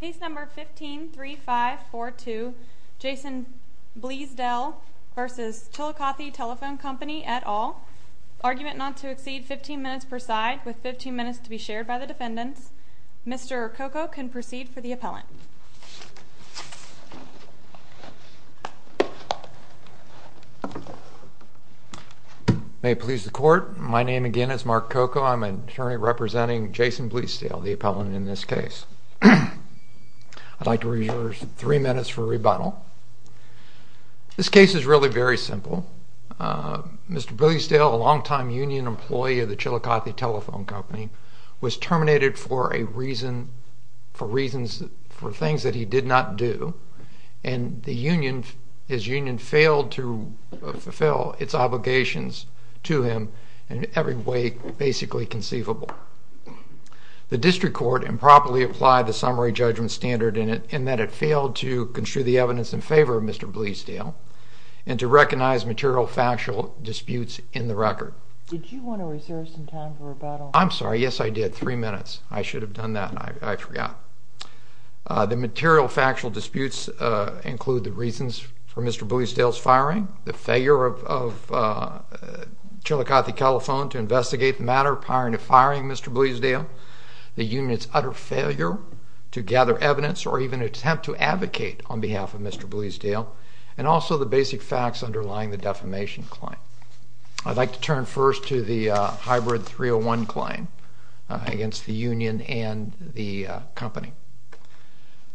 Case number 153542. Jason Blesedell v. Chillicothe Telephone Company et al. Argument not to exceed 15 minutes per side with 15 minutes to be shared by the defendants. Mr. Koko can proceed for the appellant. May it please the court. My name again is Mark Koko. I'm an attorney representing Jason Blesedell, the case. I'd like to reserve three minutes for rebuttal. This case is really very simple. Mr. Blesedell, a longtime union employee of the Chillicothe Telephone Company, was terminated for a reason, for reasons, for things that he did not do. And the union, his union, failed to fulfill its obligations to him in every way basically conceivable. The district court improperly applied the summary judgment standard in it, in that it failed to construe the evidence in favor of Mr. Blesedell and to recognize material factual disputes in the record. Did you want to reserve some time for rebuttal? I'm sorry. Yes, I did. Three minutes. I should have done that. I forgot. The material factual disputes include the reasons for Mr. Blesedell's firing, the failure of Chillicothe Telephone to investigate the matter prior to firing Mr. Blesedell, the union's utter failure to gather evidence or even attempt to advocate on behalf of Mr. Blesedell, and also the basic facts underlying the defamation claim. I'd like to turn first to the hybrid 301 claim against the union and the company.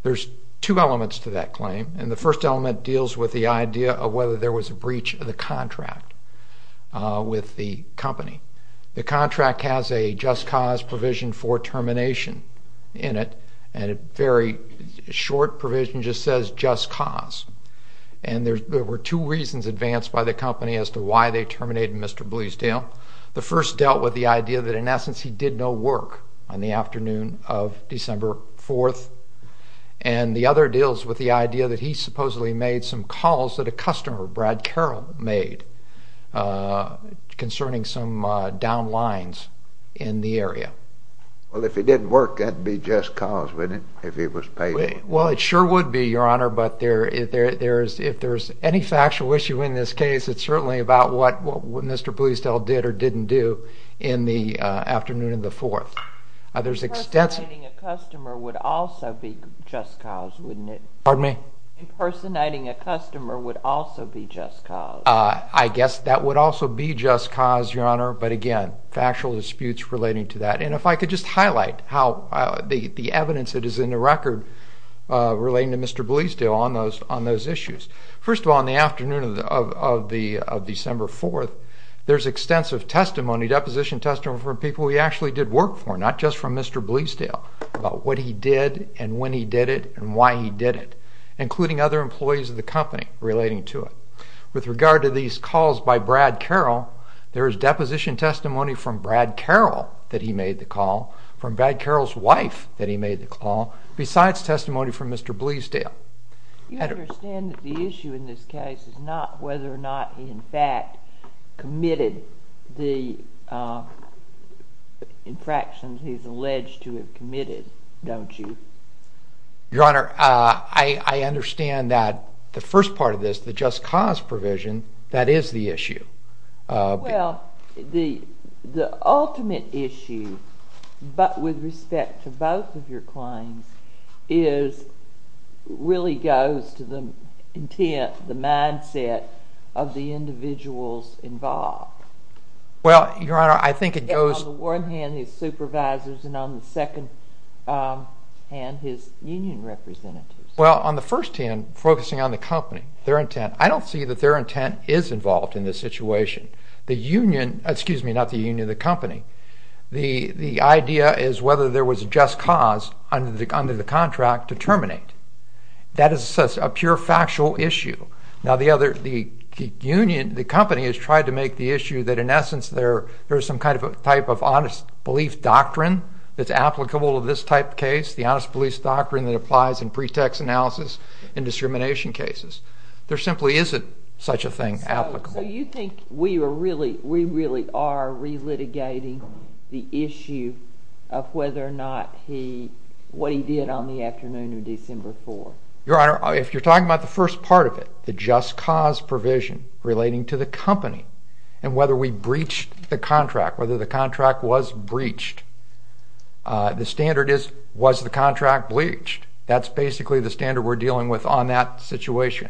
There's two elements to that claim, and the first element deals with the idea of whether there was a breach of the contract with the company. The contract has a just cause provision for termination in it, and a very short provision just says, just cause. And there were two reasons advanced by the company as to why they terminated Mr. Blesedell. The first dealt with the idea that in essence he did no work on the afternoon of December 4th. And the other deals with the calls that a customer, Brad Carroll, made concerning some down lines in the area. Well, if he didn't work, that'd be just cause, wouldn't it, if he was paid? Well, it sure would be, Your Honor, but if there's any factual issue in this case, it's certainly about what Mr. Blesedell did or didn't do in the afternoon of the 4th. There's extensive... Impersonating a customer would also be just cause, wouldn't it? Pardon me? Impersonating a customer would also be just cause. I guess that would also be just cause, Your Honor, but again, factual disputes relating to that. And if I could just highlight how the evidence that is in the record relating to Mr. Blesedell on those issues. First of all, on the afternoon of December 4th, there's extensive testimony, deposition testimony from people he actually did work for, not just from Mr. Blesedell, about what he did and when he did it and why he did it, including other employees of the company relating to it. With regard to these calls by Brad Carroll, there is deposition testimony from Brad Carroll that he made the call, from Brad Carroll's wife that he made the call, besides testimony from Mr. Blesedell. You understand that the issue in this case is not whether or not he in fact committed the infractions he's alleged to have committed, don't you? Your Honor, I understand that the first part of this, the just cause provision, that is the issue. Well, the ultimate issue, but with respect to both of your claims, really goes to the intent, the mindset of the individuals involved. Well, Your Honor, I think it goes... On the one hand, his supervisors and on the second hand, his union representatives. Well, on the first hand, focusing on the company, their intent, I don't see that their intent is involved in this situation. The union, excuse me, not the union, the company, the idea is whether there was a just cause under the contract to terminate. That is a pure factual issue. Now, the other, the union, the company has tried to make the issue that in essence there is some kind of a type of honest belief doctrine that's applicable to this type of case, the honest belief doctrine that applies in pretext analysis and discrimination cases. There simply isn't such a thing applicable. So you think we really are relitigating the issue of whether or not he, what he did on the afternoon of December 4th? Your Honor, if you're talking about the first part of it, the just cause provision relating to the company and whether we breached the contract, whether the was the contract bleached, that's basically the standard we're dealing with on that situation.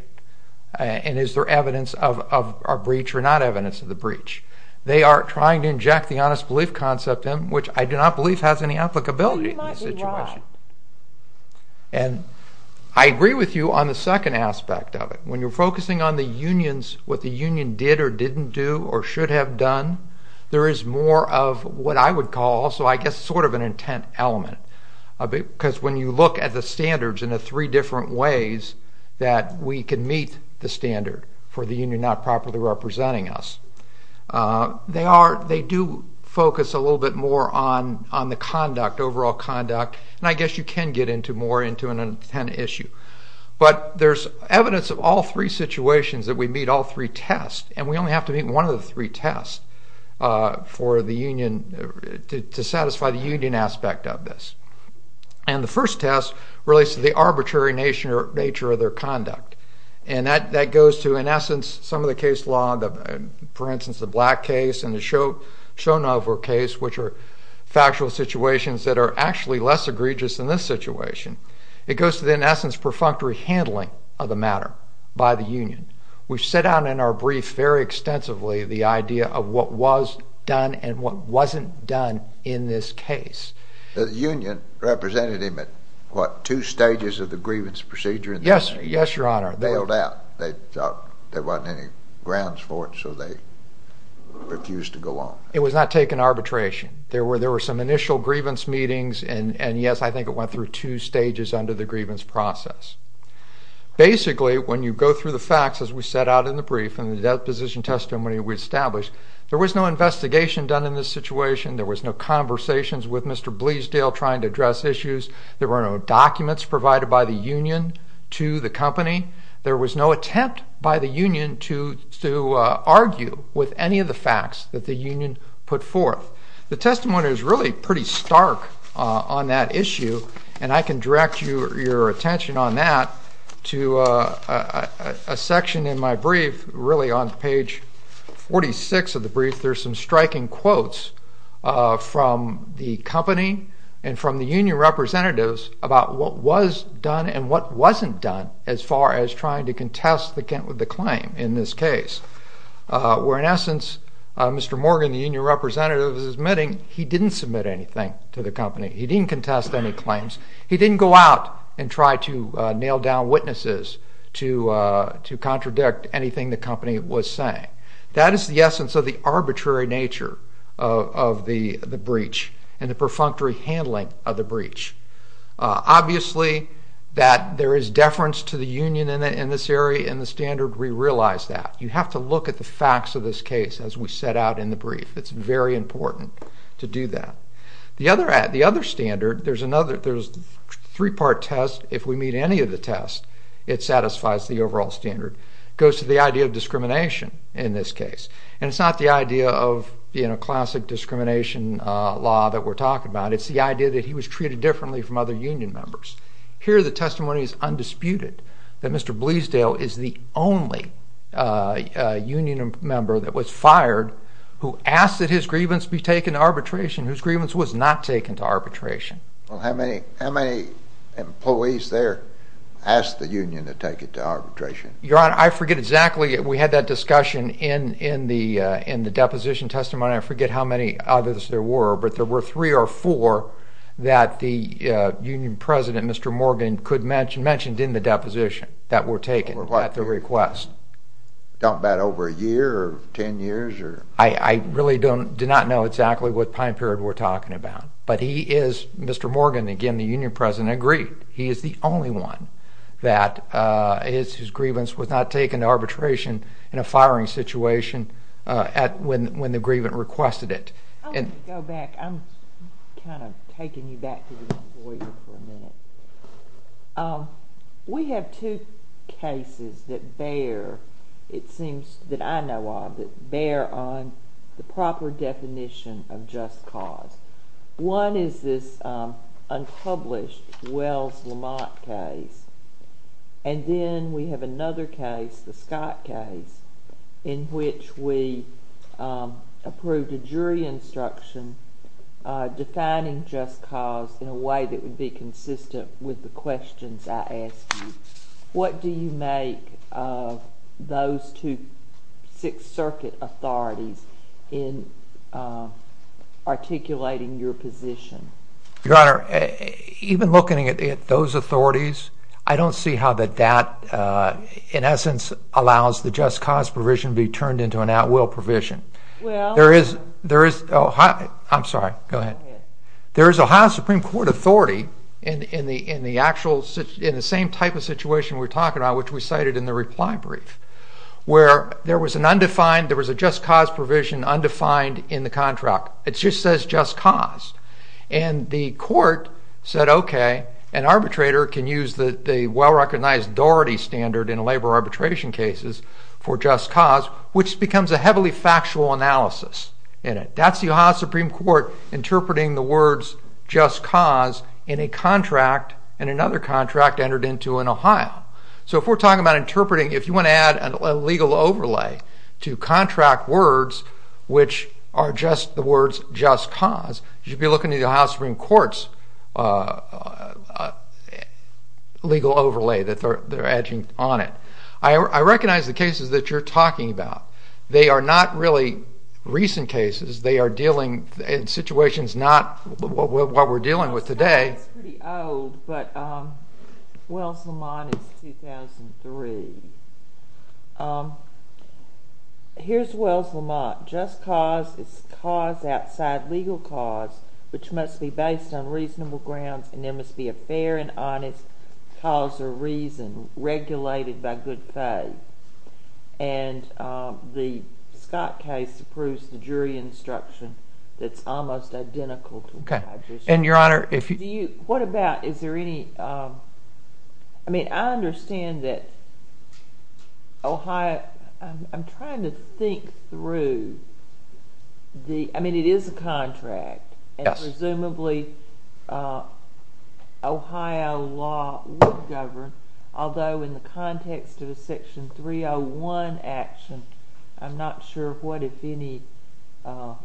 And is there evidence of a breach or not evidence of the breach? They are trying to inject the honest belief concept in, which I do not believe has any applicability in this situation. Well, you might be right. And I agree with you on the second aspect of it. When you're focusing on the unions, what the union did or didn't do or should have done, there is more of what I would call also, I guess, sort of an intent element. Because when you look at the standards in the three different ways that we can meet the standard for the union not properly representing us, they do focus a little bit more on the conduct, overall conduct, and I guess you can get into more into an intent issue. But there's evidence of all three situations that we meet all three tests, and we only have to meet one of the three tests for the union, to satisfy the union aspect of this. And the first test relates to the arbitrary nature of their conduct. And that goes to, in essence, some of the case law, for instance, the Black case and the Shonover case, which are factual situations that are actually less egregious than this situation. It goes to, in essence, perfunctory handling of the matter by the union. We've set out in our brief very extensively the idea of what was done and what wasn't done in this case. The union represented him at, what, two stages of the grievance procedure? Yes, Your Honor. They held out. There wasn't any grounds for it, so they refused to go on. It was not taken arbitration. There were some initial grievance meetings, and yes, I think it went through two stages under the grievance process. Basically, when you go through the facts, as we set out in the brief and the deposition testimony we established, there was no investigation done in this situation. There was no conversations with Mr. Bleasdale trying to address issues. There were no documents provided by the union to the company. There was no attempt by the union to argue with any of the facts that the union put forth. The testimony is really pretty stark on that issue, and I can direct your attention on that to a section in my brief, really, on page 46 of the brief. There's some striking quotes from the company and from the union representatives about what was done and what wasn't done as far as trying to contest the claim in this case, where in essence, Mr. Morgan, the union representative, is admitting he didn't submit anything to the company. He didn't contest any claims. He didn't go out and try to nail down witnesses to contradict anything the company was saying. That is the essence of the arbitrary nature of the breach and the perfunctory handling of the breach. Obviously, that there is deference to the union in this area and the standard, we realize that. You have to look at the facts of this case as we set out in the brief. It's very important to do that. The other standard, there's a three part test. If we meet any of the test, it satisfies the overall standard. Goes to the idea of discrimination in this case. And it's not the idea of classic discrimination law that we're talking about. It's the idea that he was treated differently from other union members. Here, the testimony is undisputed, that Mr. Bleasdale is the only union member that was fired, who asked that his grievance be taken to arbitration, whose grievance was not taken to arbitration. Well, how many employees there asked the union to take it to arbitration? Your honor, I forget exactly. We had that discussion in the deposition testimony. I forget how many others there were, but there were three or four that the union president, Mr. Morgan, could mention, mentioned in the deposition that were taken at the request. Talking about over a year or 10 years? I really do not know exactly what time period we're talking about, but he is, Mr. Morgan, again, the union president, agreed. He is the only one that his grievance was not taken to arbitration in a firing situation when the grievant requested it. I'm gonna go back. I'm kind of taking you back to the employer for a minute. We have two cases that bear, it seems that I know of, that bear on the proper definition of just cause. One is this unpublished Wells Lamont case, and then we have another case, the Scott case, in which we approved a jury instruction defining just cause in a way that would be consistent with the questions I asked you. What do you make of those two Sixth Circuit authorities in articulating your position? Your honor, even looking at those authorities, I don't see how that that, in essence, allows the just cause provision to be turned into an at will provision. There is... I'm sorry, go ahead. There is a Ohio Supreme Court authority in the same type of situation we're talking about, which we cited in the reply brief, where there was an undefined, there was a just cause provision undefined in the contract. It just says just cause. And the court said, okay, an arbitrator can use the well recognized Doherty standard in labor arbitration cases for just cause, which becomes a heavily factual analysis in it. That's the Ohio Supreme Court interpreting the words just cause in a contract, and another contract entered into in Ohio. So if we're talking about interpreting, if you wanna add a legal overlay to contract words, which are just the words just cause, you should be looking at the Ohio Supreme Court's legal overlay that they're adding on it. I recognize the cases that you're talking about. They are not really recent cases, they are dealing in situations not what we're dealing with today. It's pretty old, but Wells Lamont is 2003. Here's Wells Lamont. Just cause is cause outside legal cause, which must be based on reasonable grounds, and there must be a fair and honest cause or reason regulated by good faith. And the Scott case approves the jury instruction that's almost identical to what I just said. And Your Honor, if you... What about, is there any... I understand that Ohio... I'm trying to think through the... I mean, it is a contract. Yes. And presumably, Ohio law would govern, although in the context of a section 301 action, I'm not sure what, if any,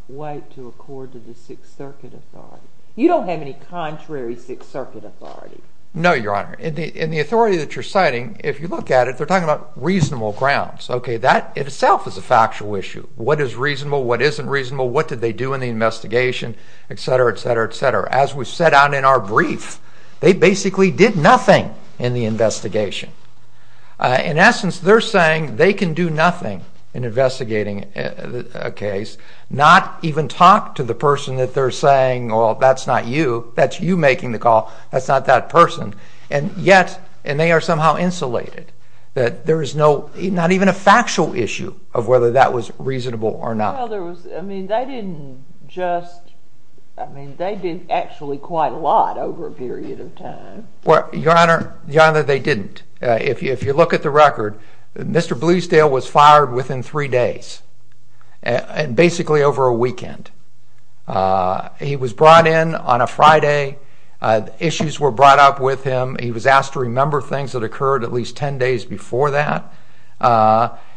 way to accord to the Sixth Circuit Authority. You don't have any contrary Sixth Circuit Authority. No, Your Honor. In the authority that you're citing, if you look at it, they're talking about reasonable grounds. Okay, that itself is a factual issue. What is reasonable, what isn't reasonable, what did they do in the investigation, etc., etc., etc. As we set out in our brief, they basically did nothing in the investigation. In essence, they're saying they can do nothing in investigating a case, not even talk to the person that they're saying, well, that's not you, that's you making the call, that's not that person. And yet, and they are somehow insulated, that there is no... Not even a factual issue of whether that was reasonable or not. Well, there was... I mean, they didn't just... I mean, they did actually quite a lot over a period of time. Well, Your Honor, they didn't. If you look at the record, Mr. Bleasdale was fired within three days, and basically over a weekend. He was brought in on a Friday, issues were brought up with him, he was asked to remember things that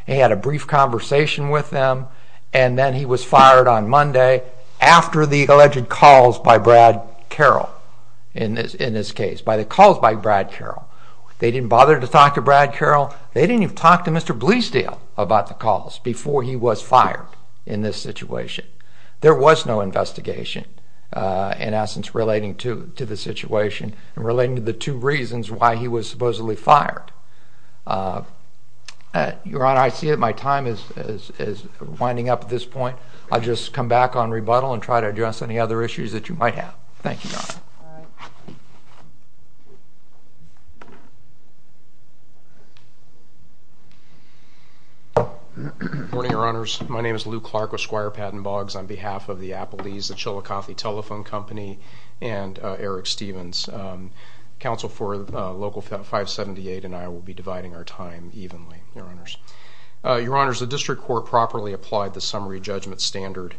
he had a brief conversation with them, and then he was fired on Monday after the alleged calls by Brad Carroll, in this case, by the calls by Brad Carroll. They didn't bother to talk to Brad Carroll, they didn't even talk to Mr. Bleasdale about the calls before he was fired in this situation. There was no investigation, in essence, relating to the situation and relating to the two reasons why he was supposedly fired. Your Honor, I see that my time is winding up at this point. I'll just come back on rebuttal and try to address any other issues that you might have. Thank you, Your Honor. Alright. Good morning, Your Honors. My name is Lou Clark with Squire Patent Boggs on behalf of the Applebee's, the Chillicothe Telephone Company, and Eric Stevens. Counsel for Local 578 and I will be dividing our time evenly, Your Honors. Your Honors, the district court properly applied the summary judgment standard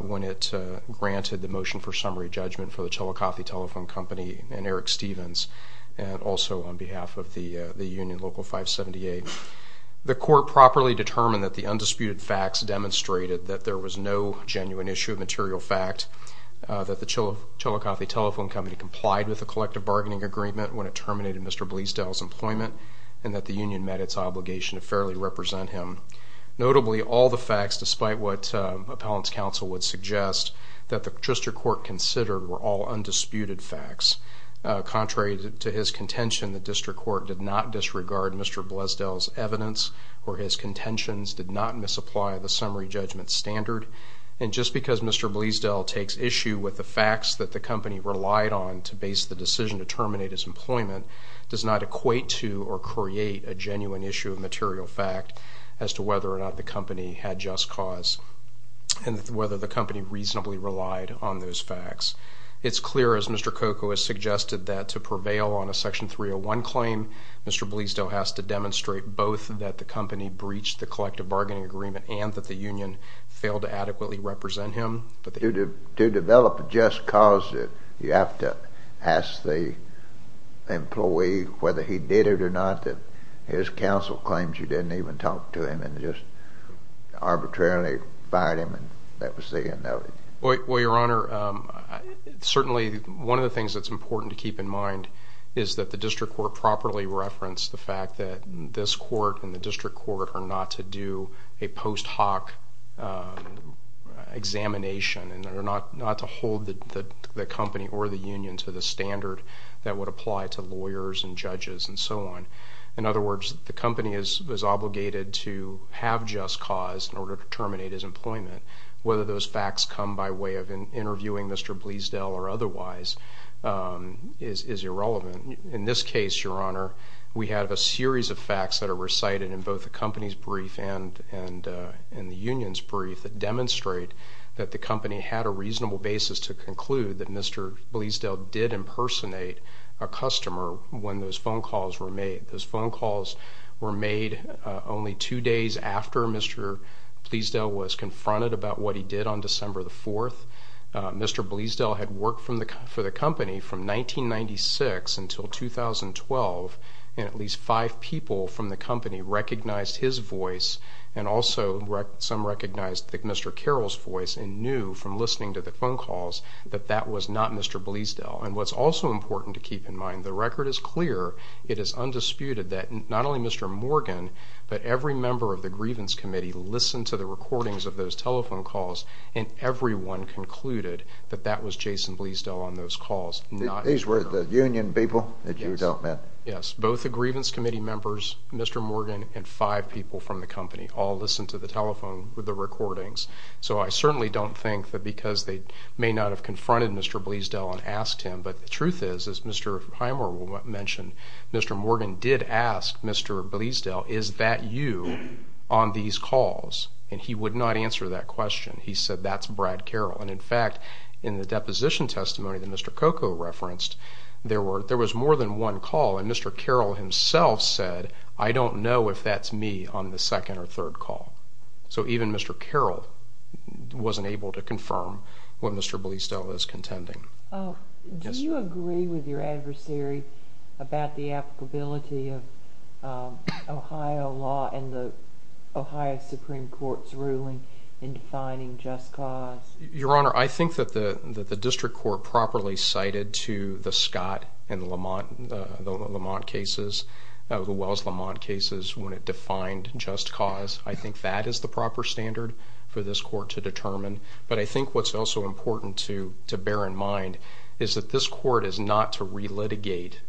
when it granted the motion for summary judgment for the Chillicothe Telephone Company and Eric Stevens, and also on behalf of the union, Local 578. The court properly determined that the undisputed facts demonstrated that there was no genuine issue of material fact, that the Chillicothe Telephone Company complied with the collective bargaining agreement when it terminated Mr. Bleasdale's employment, and that the union met its obligation to fairly represent him. Notably, all the facts, despite what appellant's counsel would suggest, that the district court considered were all undisputed facts. Contrary to his contention, the district court did not disregard Mr. Bleasdale's evidence or his contentions, did not misapply the summary judgment standard. And just because Mr. Bleasdale takes issue with the facts that the company relied on to base the decision to terminate his employment does not equate to or create a genuine issue of material fact as to whether or not the company had just cause, and whether the company reasonably relied on those facts. It's clear, as Mr. Cocoa has suggested, that to prevail on a Section 301 claim, Mr. Bleasdale has to demonstrate both that the company breached the collective bargaining agreement and that the union failed to adequately represent him. But to develop a just cause, you have to ask the employee whether he did it or not, that his counsel claims you didn't even talk to him and just arbitrarily fired him, and that was the end of it. Well, Your Honor, certainly one of the things that's important to keep in mind is that the district court properly referenced the fact that this to do a post hoc examination and not to hold the company or the union to the standard that would apply to lawyers and judges and so on. In other words, the company is obligated to have just cause in order to terminate his employment. Whether those facts come by way of interviewing Mr. Bleasdale or otherwise is irrelevant. In this case, Your Honor, we have a company's brief and the union's brief that demonstrate that the company had a reasonable basis to conclude that Mr. Bleasdale did impersonate a customer when those phone calls were made. Those phone calls were made only two days after Mr. Bleasdale was confronted about what he did on December 4th. Mr. Bleasdale had worked for the company from 1996 until 2012, and at least five people from the company recognized his voice and also some recognized Mr. Carroll's voice and knew from listening to the phone calls that that was not Mr. Bleasdale. And what's also important to keep in mind, the record is clear. It is undisputed that not only Mr. Morgan, but every member of the grievance committee listened to the recordings of those telephone calls, and everyone concluded that that was you. Yes, both the grievance committee members, Mr. Morgan and five people from the company all listened to the telephone with the recordings. So I certainly don't think that because they may not have confronted Mr. Bleasdale and asked him, but the truth is, as Mr. Hymer mentioned, Mr. Morgan did ask Mr. Bleasdale, is that you on these calls? And he would not answer that question. He said, that's Brad Carroll. And in fact, in the one call, and Mr. Carroll himself said, I don't know if that's me on the second or third call. So even Mr. Carroll wasn't able to confirm what Mr. Bleasdale is contending. Do you agree with your adversary about the applicability of Ohio law and the Ohio Supreme Court's ruling in defining just cause? Your Honor, I think that the district court properly cited to the Scott and the Lamont cases, the Wells-Lamont cases, when it defined just cause. I think that is the proper standard for this court to determine. But I think what's also important to bear in mind is that this court is not to re-litigate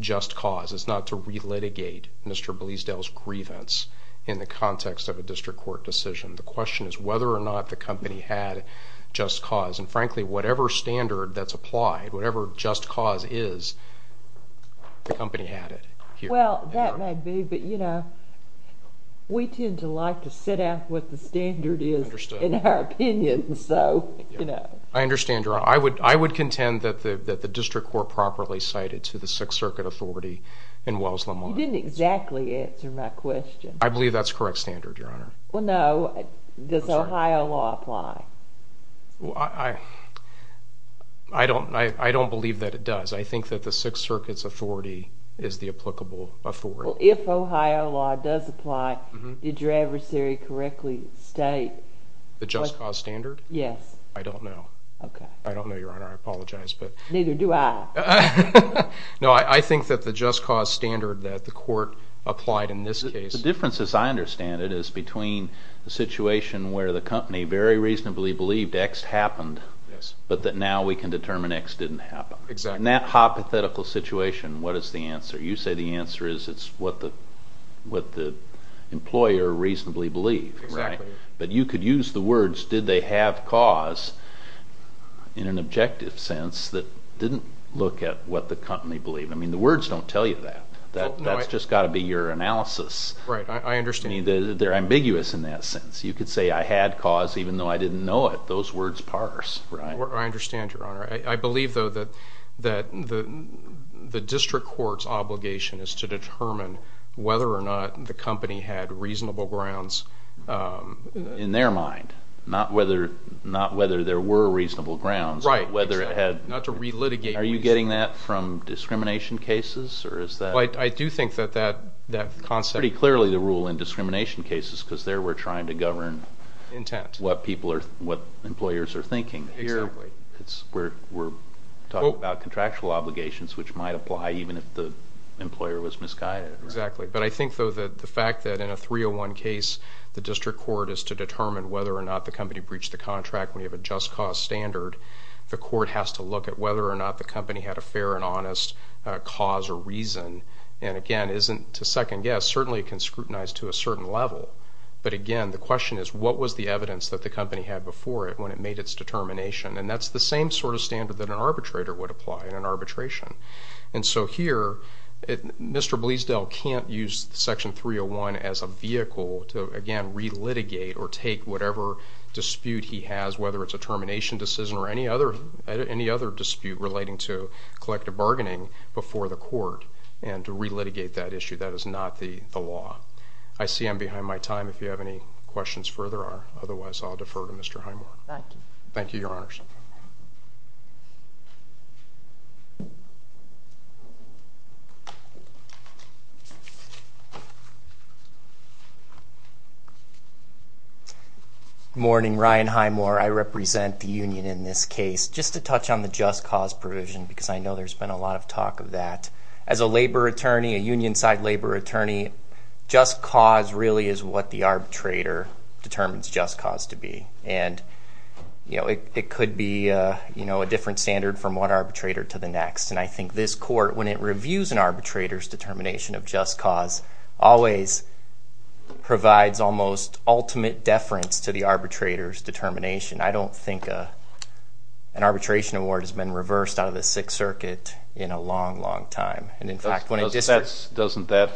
just cause. It's not to re-litigate Mr. Bleasdale's grievance in the context of a district court decision. The question is whether or not the company had just cause. And frankly, whatever standard that's applied, whatever just cause is, the company had it. Well, that might be, but you know, we tend to like to set out what the standard is in our opinion. So, you know. I understand, Your Honor. I would contend that the district court properly cited to the Sixth Circuit Authority and Wells-Lamont. You didn't exactly answer my question. I believe that's correct standard, Your Honor. Well, no. Does Ohio law apply? I don't believe that it does. I think that the Sixth Circuit's authority is the applicable authority. Well, if Ohio law does apply, did your adversary correctly state the just cause standard? Yes. I don't know. Okay. I don't know, Your Honor. I apologize, but... Neither do I. No, I think that the just cause standard that the court applied in this case... The difference as I understand it is between the situation where the company very reasonably believed X happened, but that now we can determine X didn't happen. Exactly. In that hypothetical situation, what is the answer? You say the answer is it's what the employer reasonably believed. Exactly. But you could use the words, did they have cause, in an objective sense that didn't look at what the company believed. I mean, the words don't tell you that. That's just gotta be your analysis. Right. I understand. I mean, they're ambiguous in that sense. You could say, I had cause, even though I didn't know it. Those words parse. Right. I understand, Your Honor. I believe, though, that the district court's obligation is to determine whether or not the company had reasonable grounds... In their mind, not whether there were reasonable grounds, but whether it had... Right. Not to relitigate... Are you getting that from discrimination cases, or is that... Well, I do think that that concept... Pretty clearly the rule in discrimination cases, because there we're trying to govern... Intent. What people are... What employers are thinking. Exactly. We're talking about contractual obligations, which might apply even if the employer was misguided. Exactly. But I think, though, that the fact that in a 301 case, the district court is to determine whether or not the company breached the contract when you have a just cause standard. The court has to look at whether or not the company had a fair and honest cause or reason. And again, isn't to second guess, certainly it can scrutinize to a certain level. But again, the question is, what was the evidence that the company had before it when it made its determination? And that's the same sort of standard that an arbitrator would apply in an arbitration. And so here, Mr. Bleasdale can't use Section 301 as a vehicle to, again, relitigate or take whatever dispute he has, whether it's a collective bargaining, before the court and to relitigate that issue. That is not the law. I see I'm behind my time. If you have any questions further or otherwise, I'll defer to Mr. Highmore. Thank you. Thank you, Your Honors. Morning, Ryan Highmore. I represent the union in this case. Just to touch on the just cause provision, because I know there's been a lot of talk of that. As a labor attorney, a union side labor attorney, just cause really is what the arbitrator determines just cause to be. And it could be a different standard from one arbitrator to the next. And I think this court, when it reviews an arbitrator's determination of just cause, always provides almost ultimate deference to the arbitrator's determination. I don't think an arbitration award has been reversed out of the Sixth Circuit in a long, long time. And in fact... Doesn't that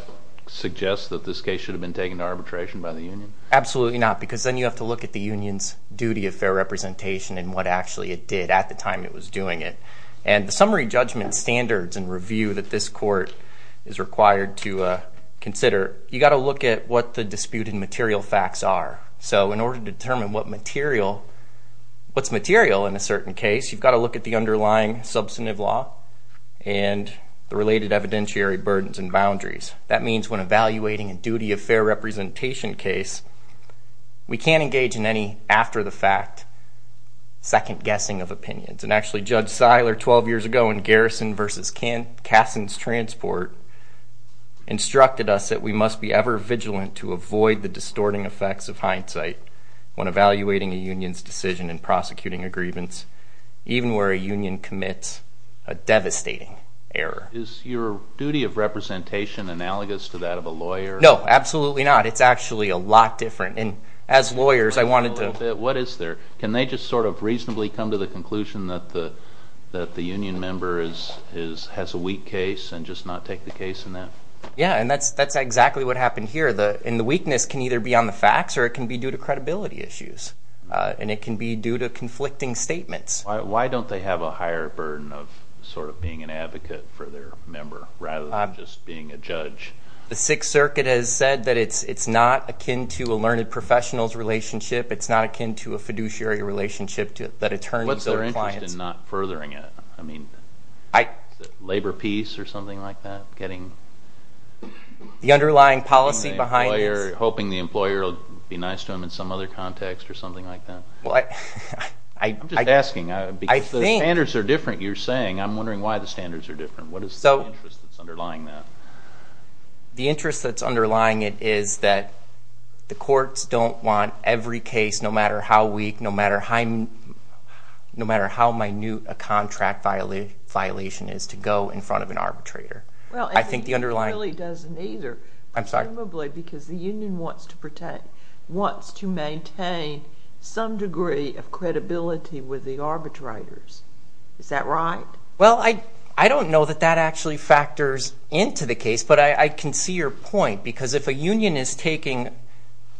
suggest that this case should have been taken to arbitration by the union? Absolutely not, because then you have to look at the union's duty of fair representation and what actually it did at the time it was doing it. And the summary judgment standards and review that this court is required to consider, you gotta look at what the disputed material facts are. So in order to determine what's material in a certain case, you've gotta look at the underlying substantive law and the related evidentiary burdens and boundaries. That means when evaluating a duty of fair representation case, we can't engage in any after the fact second guessing of opinions. And actually, Judge Seiler, 12 years ago in Garrison versus Kasson's transport, instructed us that we must be ever vigilant to avoid the distorting effects of hindsight when evaluating a union's decision in prosecuting a grievance, even where a union commits a devastating error. Is your duty of representation analogous to that of a lawyer? No, absolutely not. It's actually a lot different. And as lawyers, I wanted to... What is there? Can they just sort of reasonably come to the conclusion that the union member has a weak case and just not take the case in that? Yeah, and that's exactly what happened here. And the weakness can either be on the facts or it can be due to credibility issues, and it can be due to conflicting statements. Why don't they have a higher burden of sort of being an advocate for their member, rather than just being a judge? The Sixth Circuit has said that it's not akin to a learned professional's relationship, it's not akin to a fiduciary relationship that attorneys build clients... What's their interest in not furthering it? I mean, is it labor peace or something like that? Getting... The underlying policy behind it is... Hoping the employer will be nice to him in some other context or something like that? I'm just asking because the standards are different, you're saying. I'm wondering why the standards are different. What is the interest that's underlying that? The interest that's underlying it is that the courts don't want every case, no matter how weak, no matter how minute a contract violation is, to go in front of an arbitrator. I think the underlying... Well, it really doesn't either. I'm sorry? Probably because the union wants to protect, wants to maintain some degree of credibility with the arbitrators. Is that right? Well, I don't know that that actually factors into the case, but I can see your point. Because if a union is taking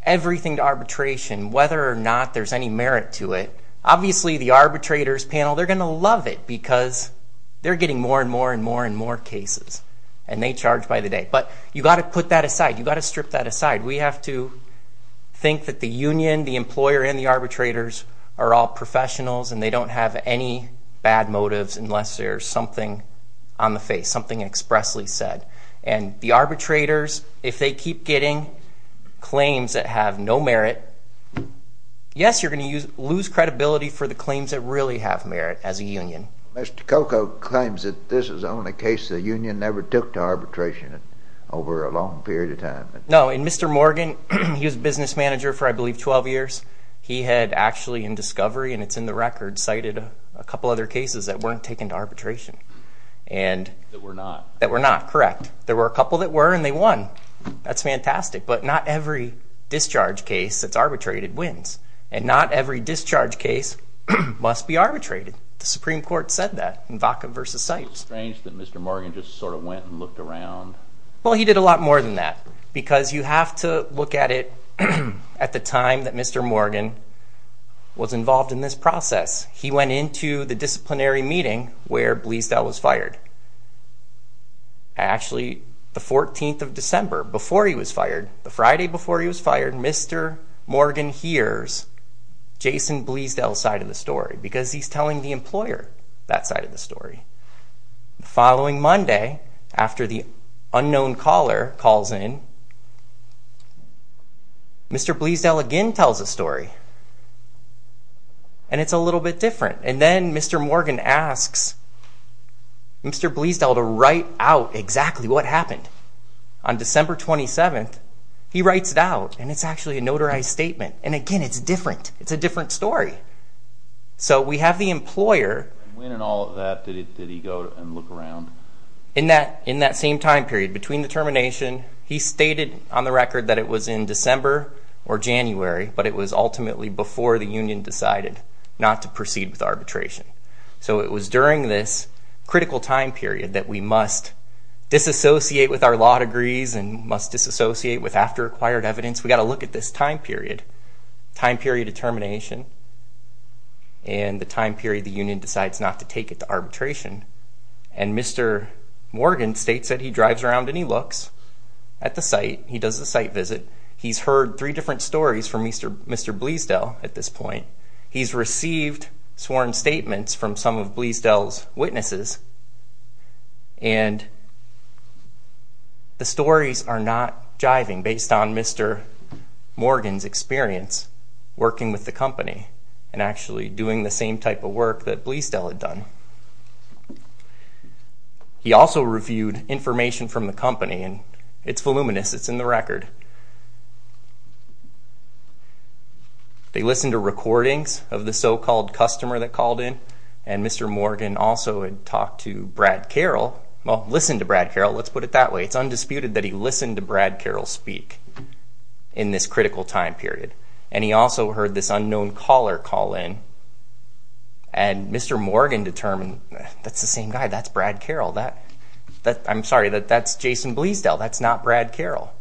everything to arbitration, whether or not there's any merit to it, obviously the arbitrators panel, they're gonna love it because they're getting more and more and more and more cases, and they charge by the day. But you gotta put that aside, you gotta strip that aside. We have to think that the union, the employer, and the arbitrators are all professionals and they don't have any bad motives unless there's something on the face, something expressly said. And the arbitrators, if they keep getting claims that have no merit, yes, you're gonna lose credibility for the claims that really have merit as a union. Mr. Coco claims that this is the only case the union never took to arbitration over a long period of time. No, and Mr. Morgan, he was a business manager for, I believe, 12 years. He had actually in discovery, and it's in the record, cited a couple other cases that weren't taken to arbitration. And... That were not. That were not, correct. There were a couple that were and they won. That's fantastic, but not every discharge case that's arbitrated wins, and not every discharge case must be arbitrated. The Supreme Court said that in Vaca versus Sypes. It's strange that Mr. Morgan just sort of went and looked around. Well, he did a lot more than that, because you have to look at it at the time that Mr. Morgan was involved in this process. He went into the disciplinary meeting where Bleasdale was fired. Actually, the 14th of December, before he was fired, the Friday before he was fired, Mr. Morgan hears Jason Bleasdale's side of the story, because he's telling the employer that side of the story. The following Monday, after the unknown caller calls in, Mr. Bleasdale again tells a story. And it's a little bit different. And then Mr. Morgan asks Mr. Bleasdale to write out exactly what happened. On December 27th, he writes it out and it's actually a notarized statement. And again, it's different. It's a different story. So we have the employer... When and all of that, did he go and look around? In that same time period between the termination, he stated on the record that it was in December or January, but it was ultimately before the union decided not to proceed with arbitration. So it was during this critical time period that we must disassociate with our law degrees and must disassociate with after acquired evidence. We gotta look at this time period, time period of termination, and the time period the union decides not to take it to arbitration. And Mr. Morgan states that he drives around and he looks at the site. He does the site visit. He's heard three different stories from Mr. Bleasdale at this point. He's received sworn statements from some of Bleasdale's witnesses, and the stories are not jiving based on Mr. Morgan's experience working with the company and actually doing the same type of work that Bleasdale had done. He also reviewed information from the company and it's voluminous, it's in the record. They listened to recordings of the so called customer that called in and Mr. Morgan also had talked to Brad Carroll. Well, listen to Brad Carroll, let's put it that way. It's undisputed that he listened to Brad Carroll speak in this critical time period. And he also heard this unknown caller call in and Mr. Morgan determined, that's the same guy, that's Brad Carroll, that... I'm sorry, that's Jason Bleasdale, that's not Brad Carroll.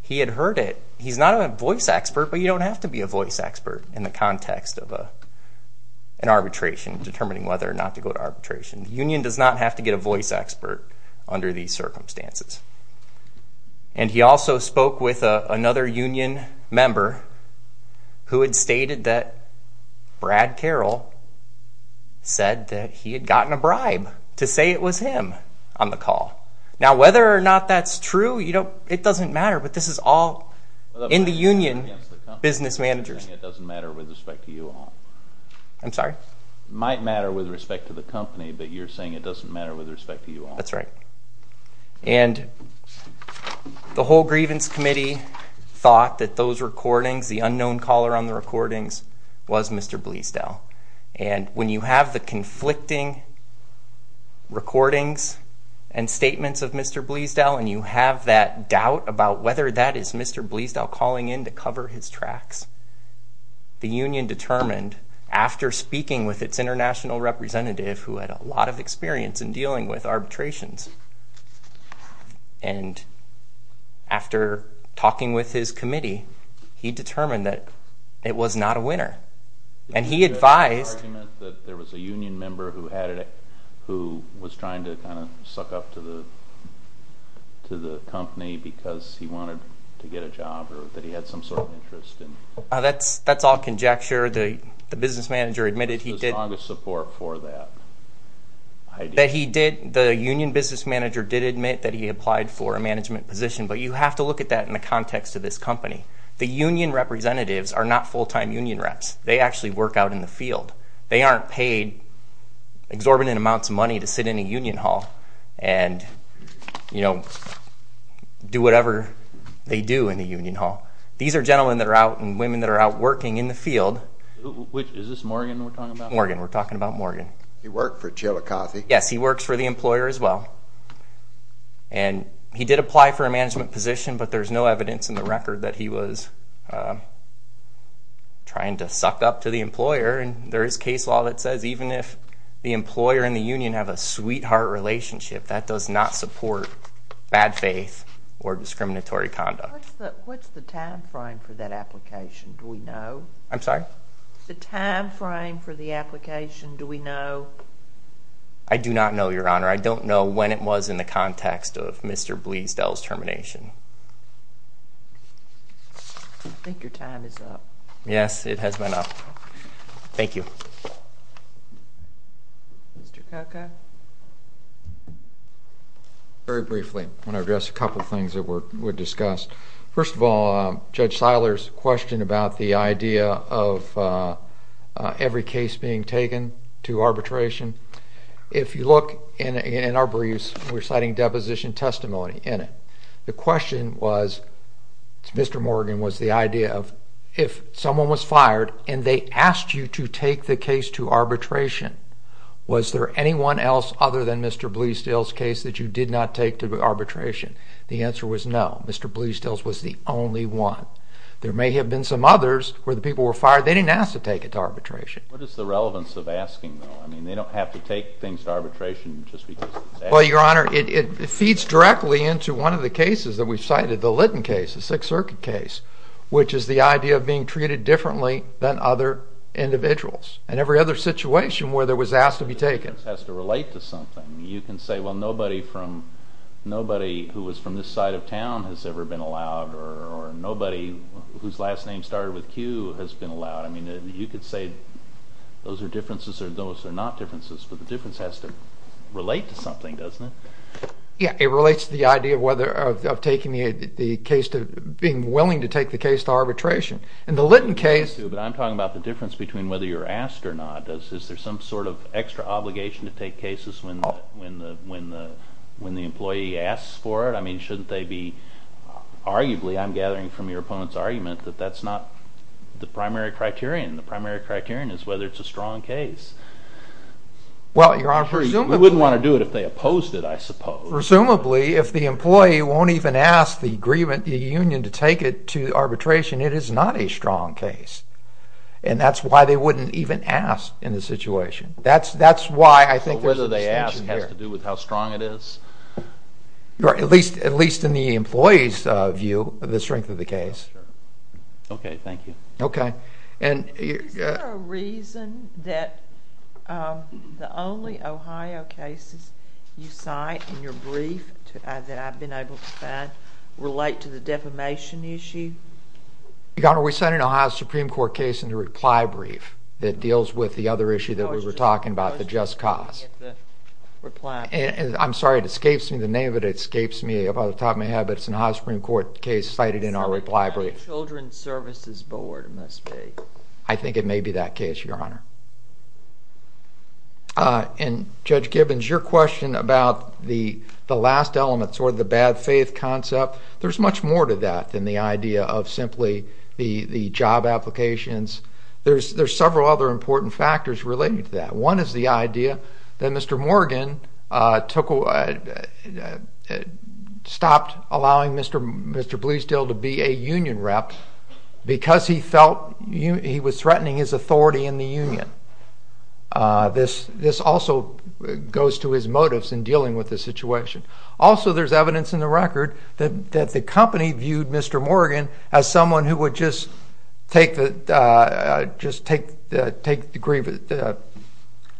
He had heard it. He's not a voice expert, but you don't have to be a voice expert in the context of an arbitration, determining whether or not to go to arbitration. The union does not have to get a voice expert under these circumstances. And he also spoke with another union member who had stated that Brad Carroll said that he had gotten a bribe to say it was him on the call. Now, whether or not that's true, it doesn't matter, but this is all in the union business managers. It doesn't matter with respect to you all. I'm sorry? It might matter with respect to the company, but you're saying it doesn't matter with respect to you all. That's right. And the whole grievance committee thought that those recordings, the unknown caller on the recordings was Mr. Bleasdale. And when you have the conflicting recordings and statements of Mr. Bleasdale, and you have that doubt about whether that is Mr. Bleasdale calling in to cover his tracks, the union determined, after speaking with its international representative who had a lot of experience in dealing with arbitrations, and after talking with his committee, he determined that it was not a winner. And he advised... Did he make an argument that there was a union member who was trying to suck up to the company because he wanted to get a job, or that he had some sort of interest in... That's all conjecture. The business manager admitted he did... The strongest support for that idea. That he did... The union business manager did admit that he applied for a management position, but you have to look at that in the context of this company. The union representatives are not full time union reps. They actually work out in the field. They aren't paid exorbitant amounts of money to sit in a union hall and do whatever they do in the union hall. These are gentlemen that are out and women that are out working in the field. Is this Morgan we're talking about? Morgan, we're talking about Morgan. He worked for Chillicothe. Yes, he works for the employer as well. And he did apply for a management position, but there's no evidence in the record that he was trying to suck up to the employer. And there is case law that says even if the employer and the union have a sweetheart relationship, that does not support bad faith or discriminatory conduct. What's the time frame for that application? Do we know? I'm sorry? The time frame for the application, do we know? I do not know, Your Honor. I don't know when it was in the context of Mr. Bleasdale's termination. I think your time is up. Yes, it has been up. Thank you. Mr. Kaka. Very briefly, I wanna address a couple of things that were discussed. First of all, Judge Siler's question about the idea of every case being taken to arbitration. If you look in our briefs, we're citing deposition testimony in it. The question was, Mr. Morgan, was the idea of if someone was fired and they asked you to take the case to arbitration, was there anyone else other than Mr. Bleasdale's case that you did not take to arbitration? The answer was no. Mr. Bleasdale's was the only one. There may have been some others where the people were fired. They didn't ask to take it to arbitration. What is the relevance of asking, though? I mean, they don't have to make things to arbitration just because... Well, Your Honor, it feeds directly into one of the cases that we've cited, the Litton case, the Sixth Circuit case, which is the idea of being treated differently than other individuals, and every other situation where there was asked to be taken. It has to relate to something. You can say, well, nobody from... Nobody who was from this side of town has ever been allowed, or nobody whose last name started with Q has been allowed. I mean, you could say those are differences or those are not differences but the difference has to relate to something, doesn't it? Yeah, it relates to the idea of whether... Of taking the case to... Being willing to take the case to arbitration. In the Litton case... I'm talking about the difference between whether you're asked or not. Is there some sort of extra obligation to take cases when the employee asks for it? I mean, shouldn't they be... Arguably, I'm gathering from your opponent's argument that that's not the primary criterion. The primary criterion is whether it's a strong case. Well, Your Honor, presumably... We wouldn't want to do it if they opposed it, I suppose. Presumably, if the employee won't even ask the agreement, the union to take it to arbitration, it is not a strong case. And that's why they wouldn't even ask in the situation. That's why I think there's a distinction there. So whether they ask has to do with how strong it is? Right, at least in the employee's view, the strength of the case. Okay, thank you. Okay. And... Is there a reason that the only Ohio cases you cite in your brief that I've been able to find relate to the defamation issue? Your Honor, we cited an Ohio Supreme Court case in the reply brief that deals with the other issue that we were talking about, the just cause. The reply... I'm sorry, it escapes me. The name of it escapes me about the time I have, but it's an Ohio Supreme Court case cited in our reply brief. So it's the Ohio Children Services Board, it must be. I think it may be that case, Your Honor. And Judge Gibbons, your question about the last element, sort of the bad faith concept, there's much more to that than the idea of simply the job applications. There's several other important factors related to that. One is the idea that Mr. Morgan stopped allowing Mr. Bleasdale to be a union rep because he felt he was threatening his authority in the union. This also goes to his motives in dealing with this situation. Also, there's evidence in the record that the company viewed Mr. Morgan as someone who would just take the...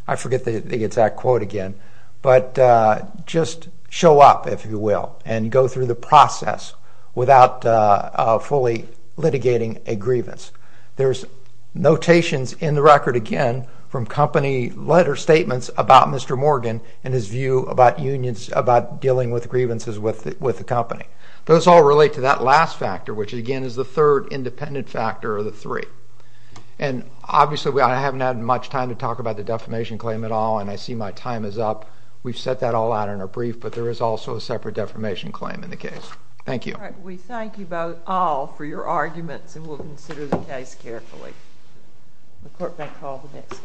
I forget the exact quote again, but just show up, if you will, and go through the process without fully litigating a grievance. Notations in the record, again, from company letter statements about Mr. Morgan and his view about unions, about dealing with grievances with the company. Those all relate to that last factor, which again is the third independent factor of the three. And obviously, I haven't had much time to talk about the defamation claim at all, and I see my time is up. We've set that all out in our brief, but there is also a separate defamation claim in the case. Thank you. All right. We thank you both all for your arguments, and we'll consider the case carefully. The court may call the next...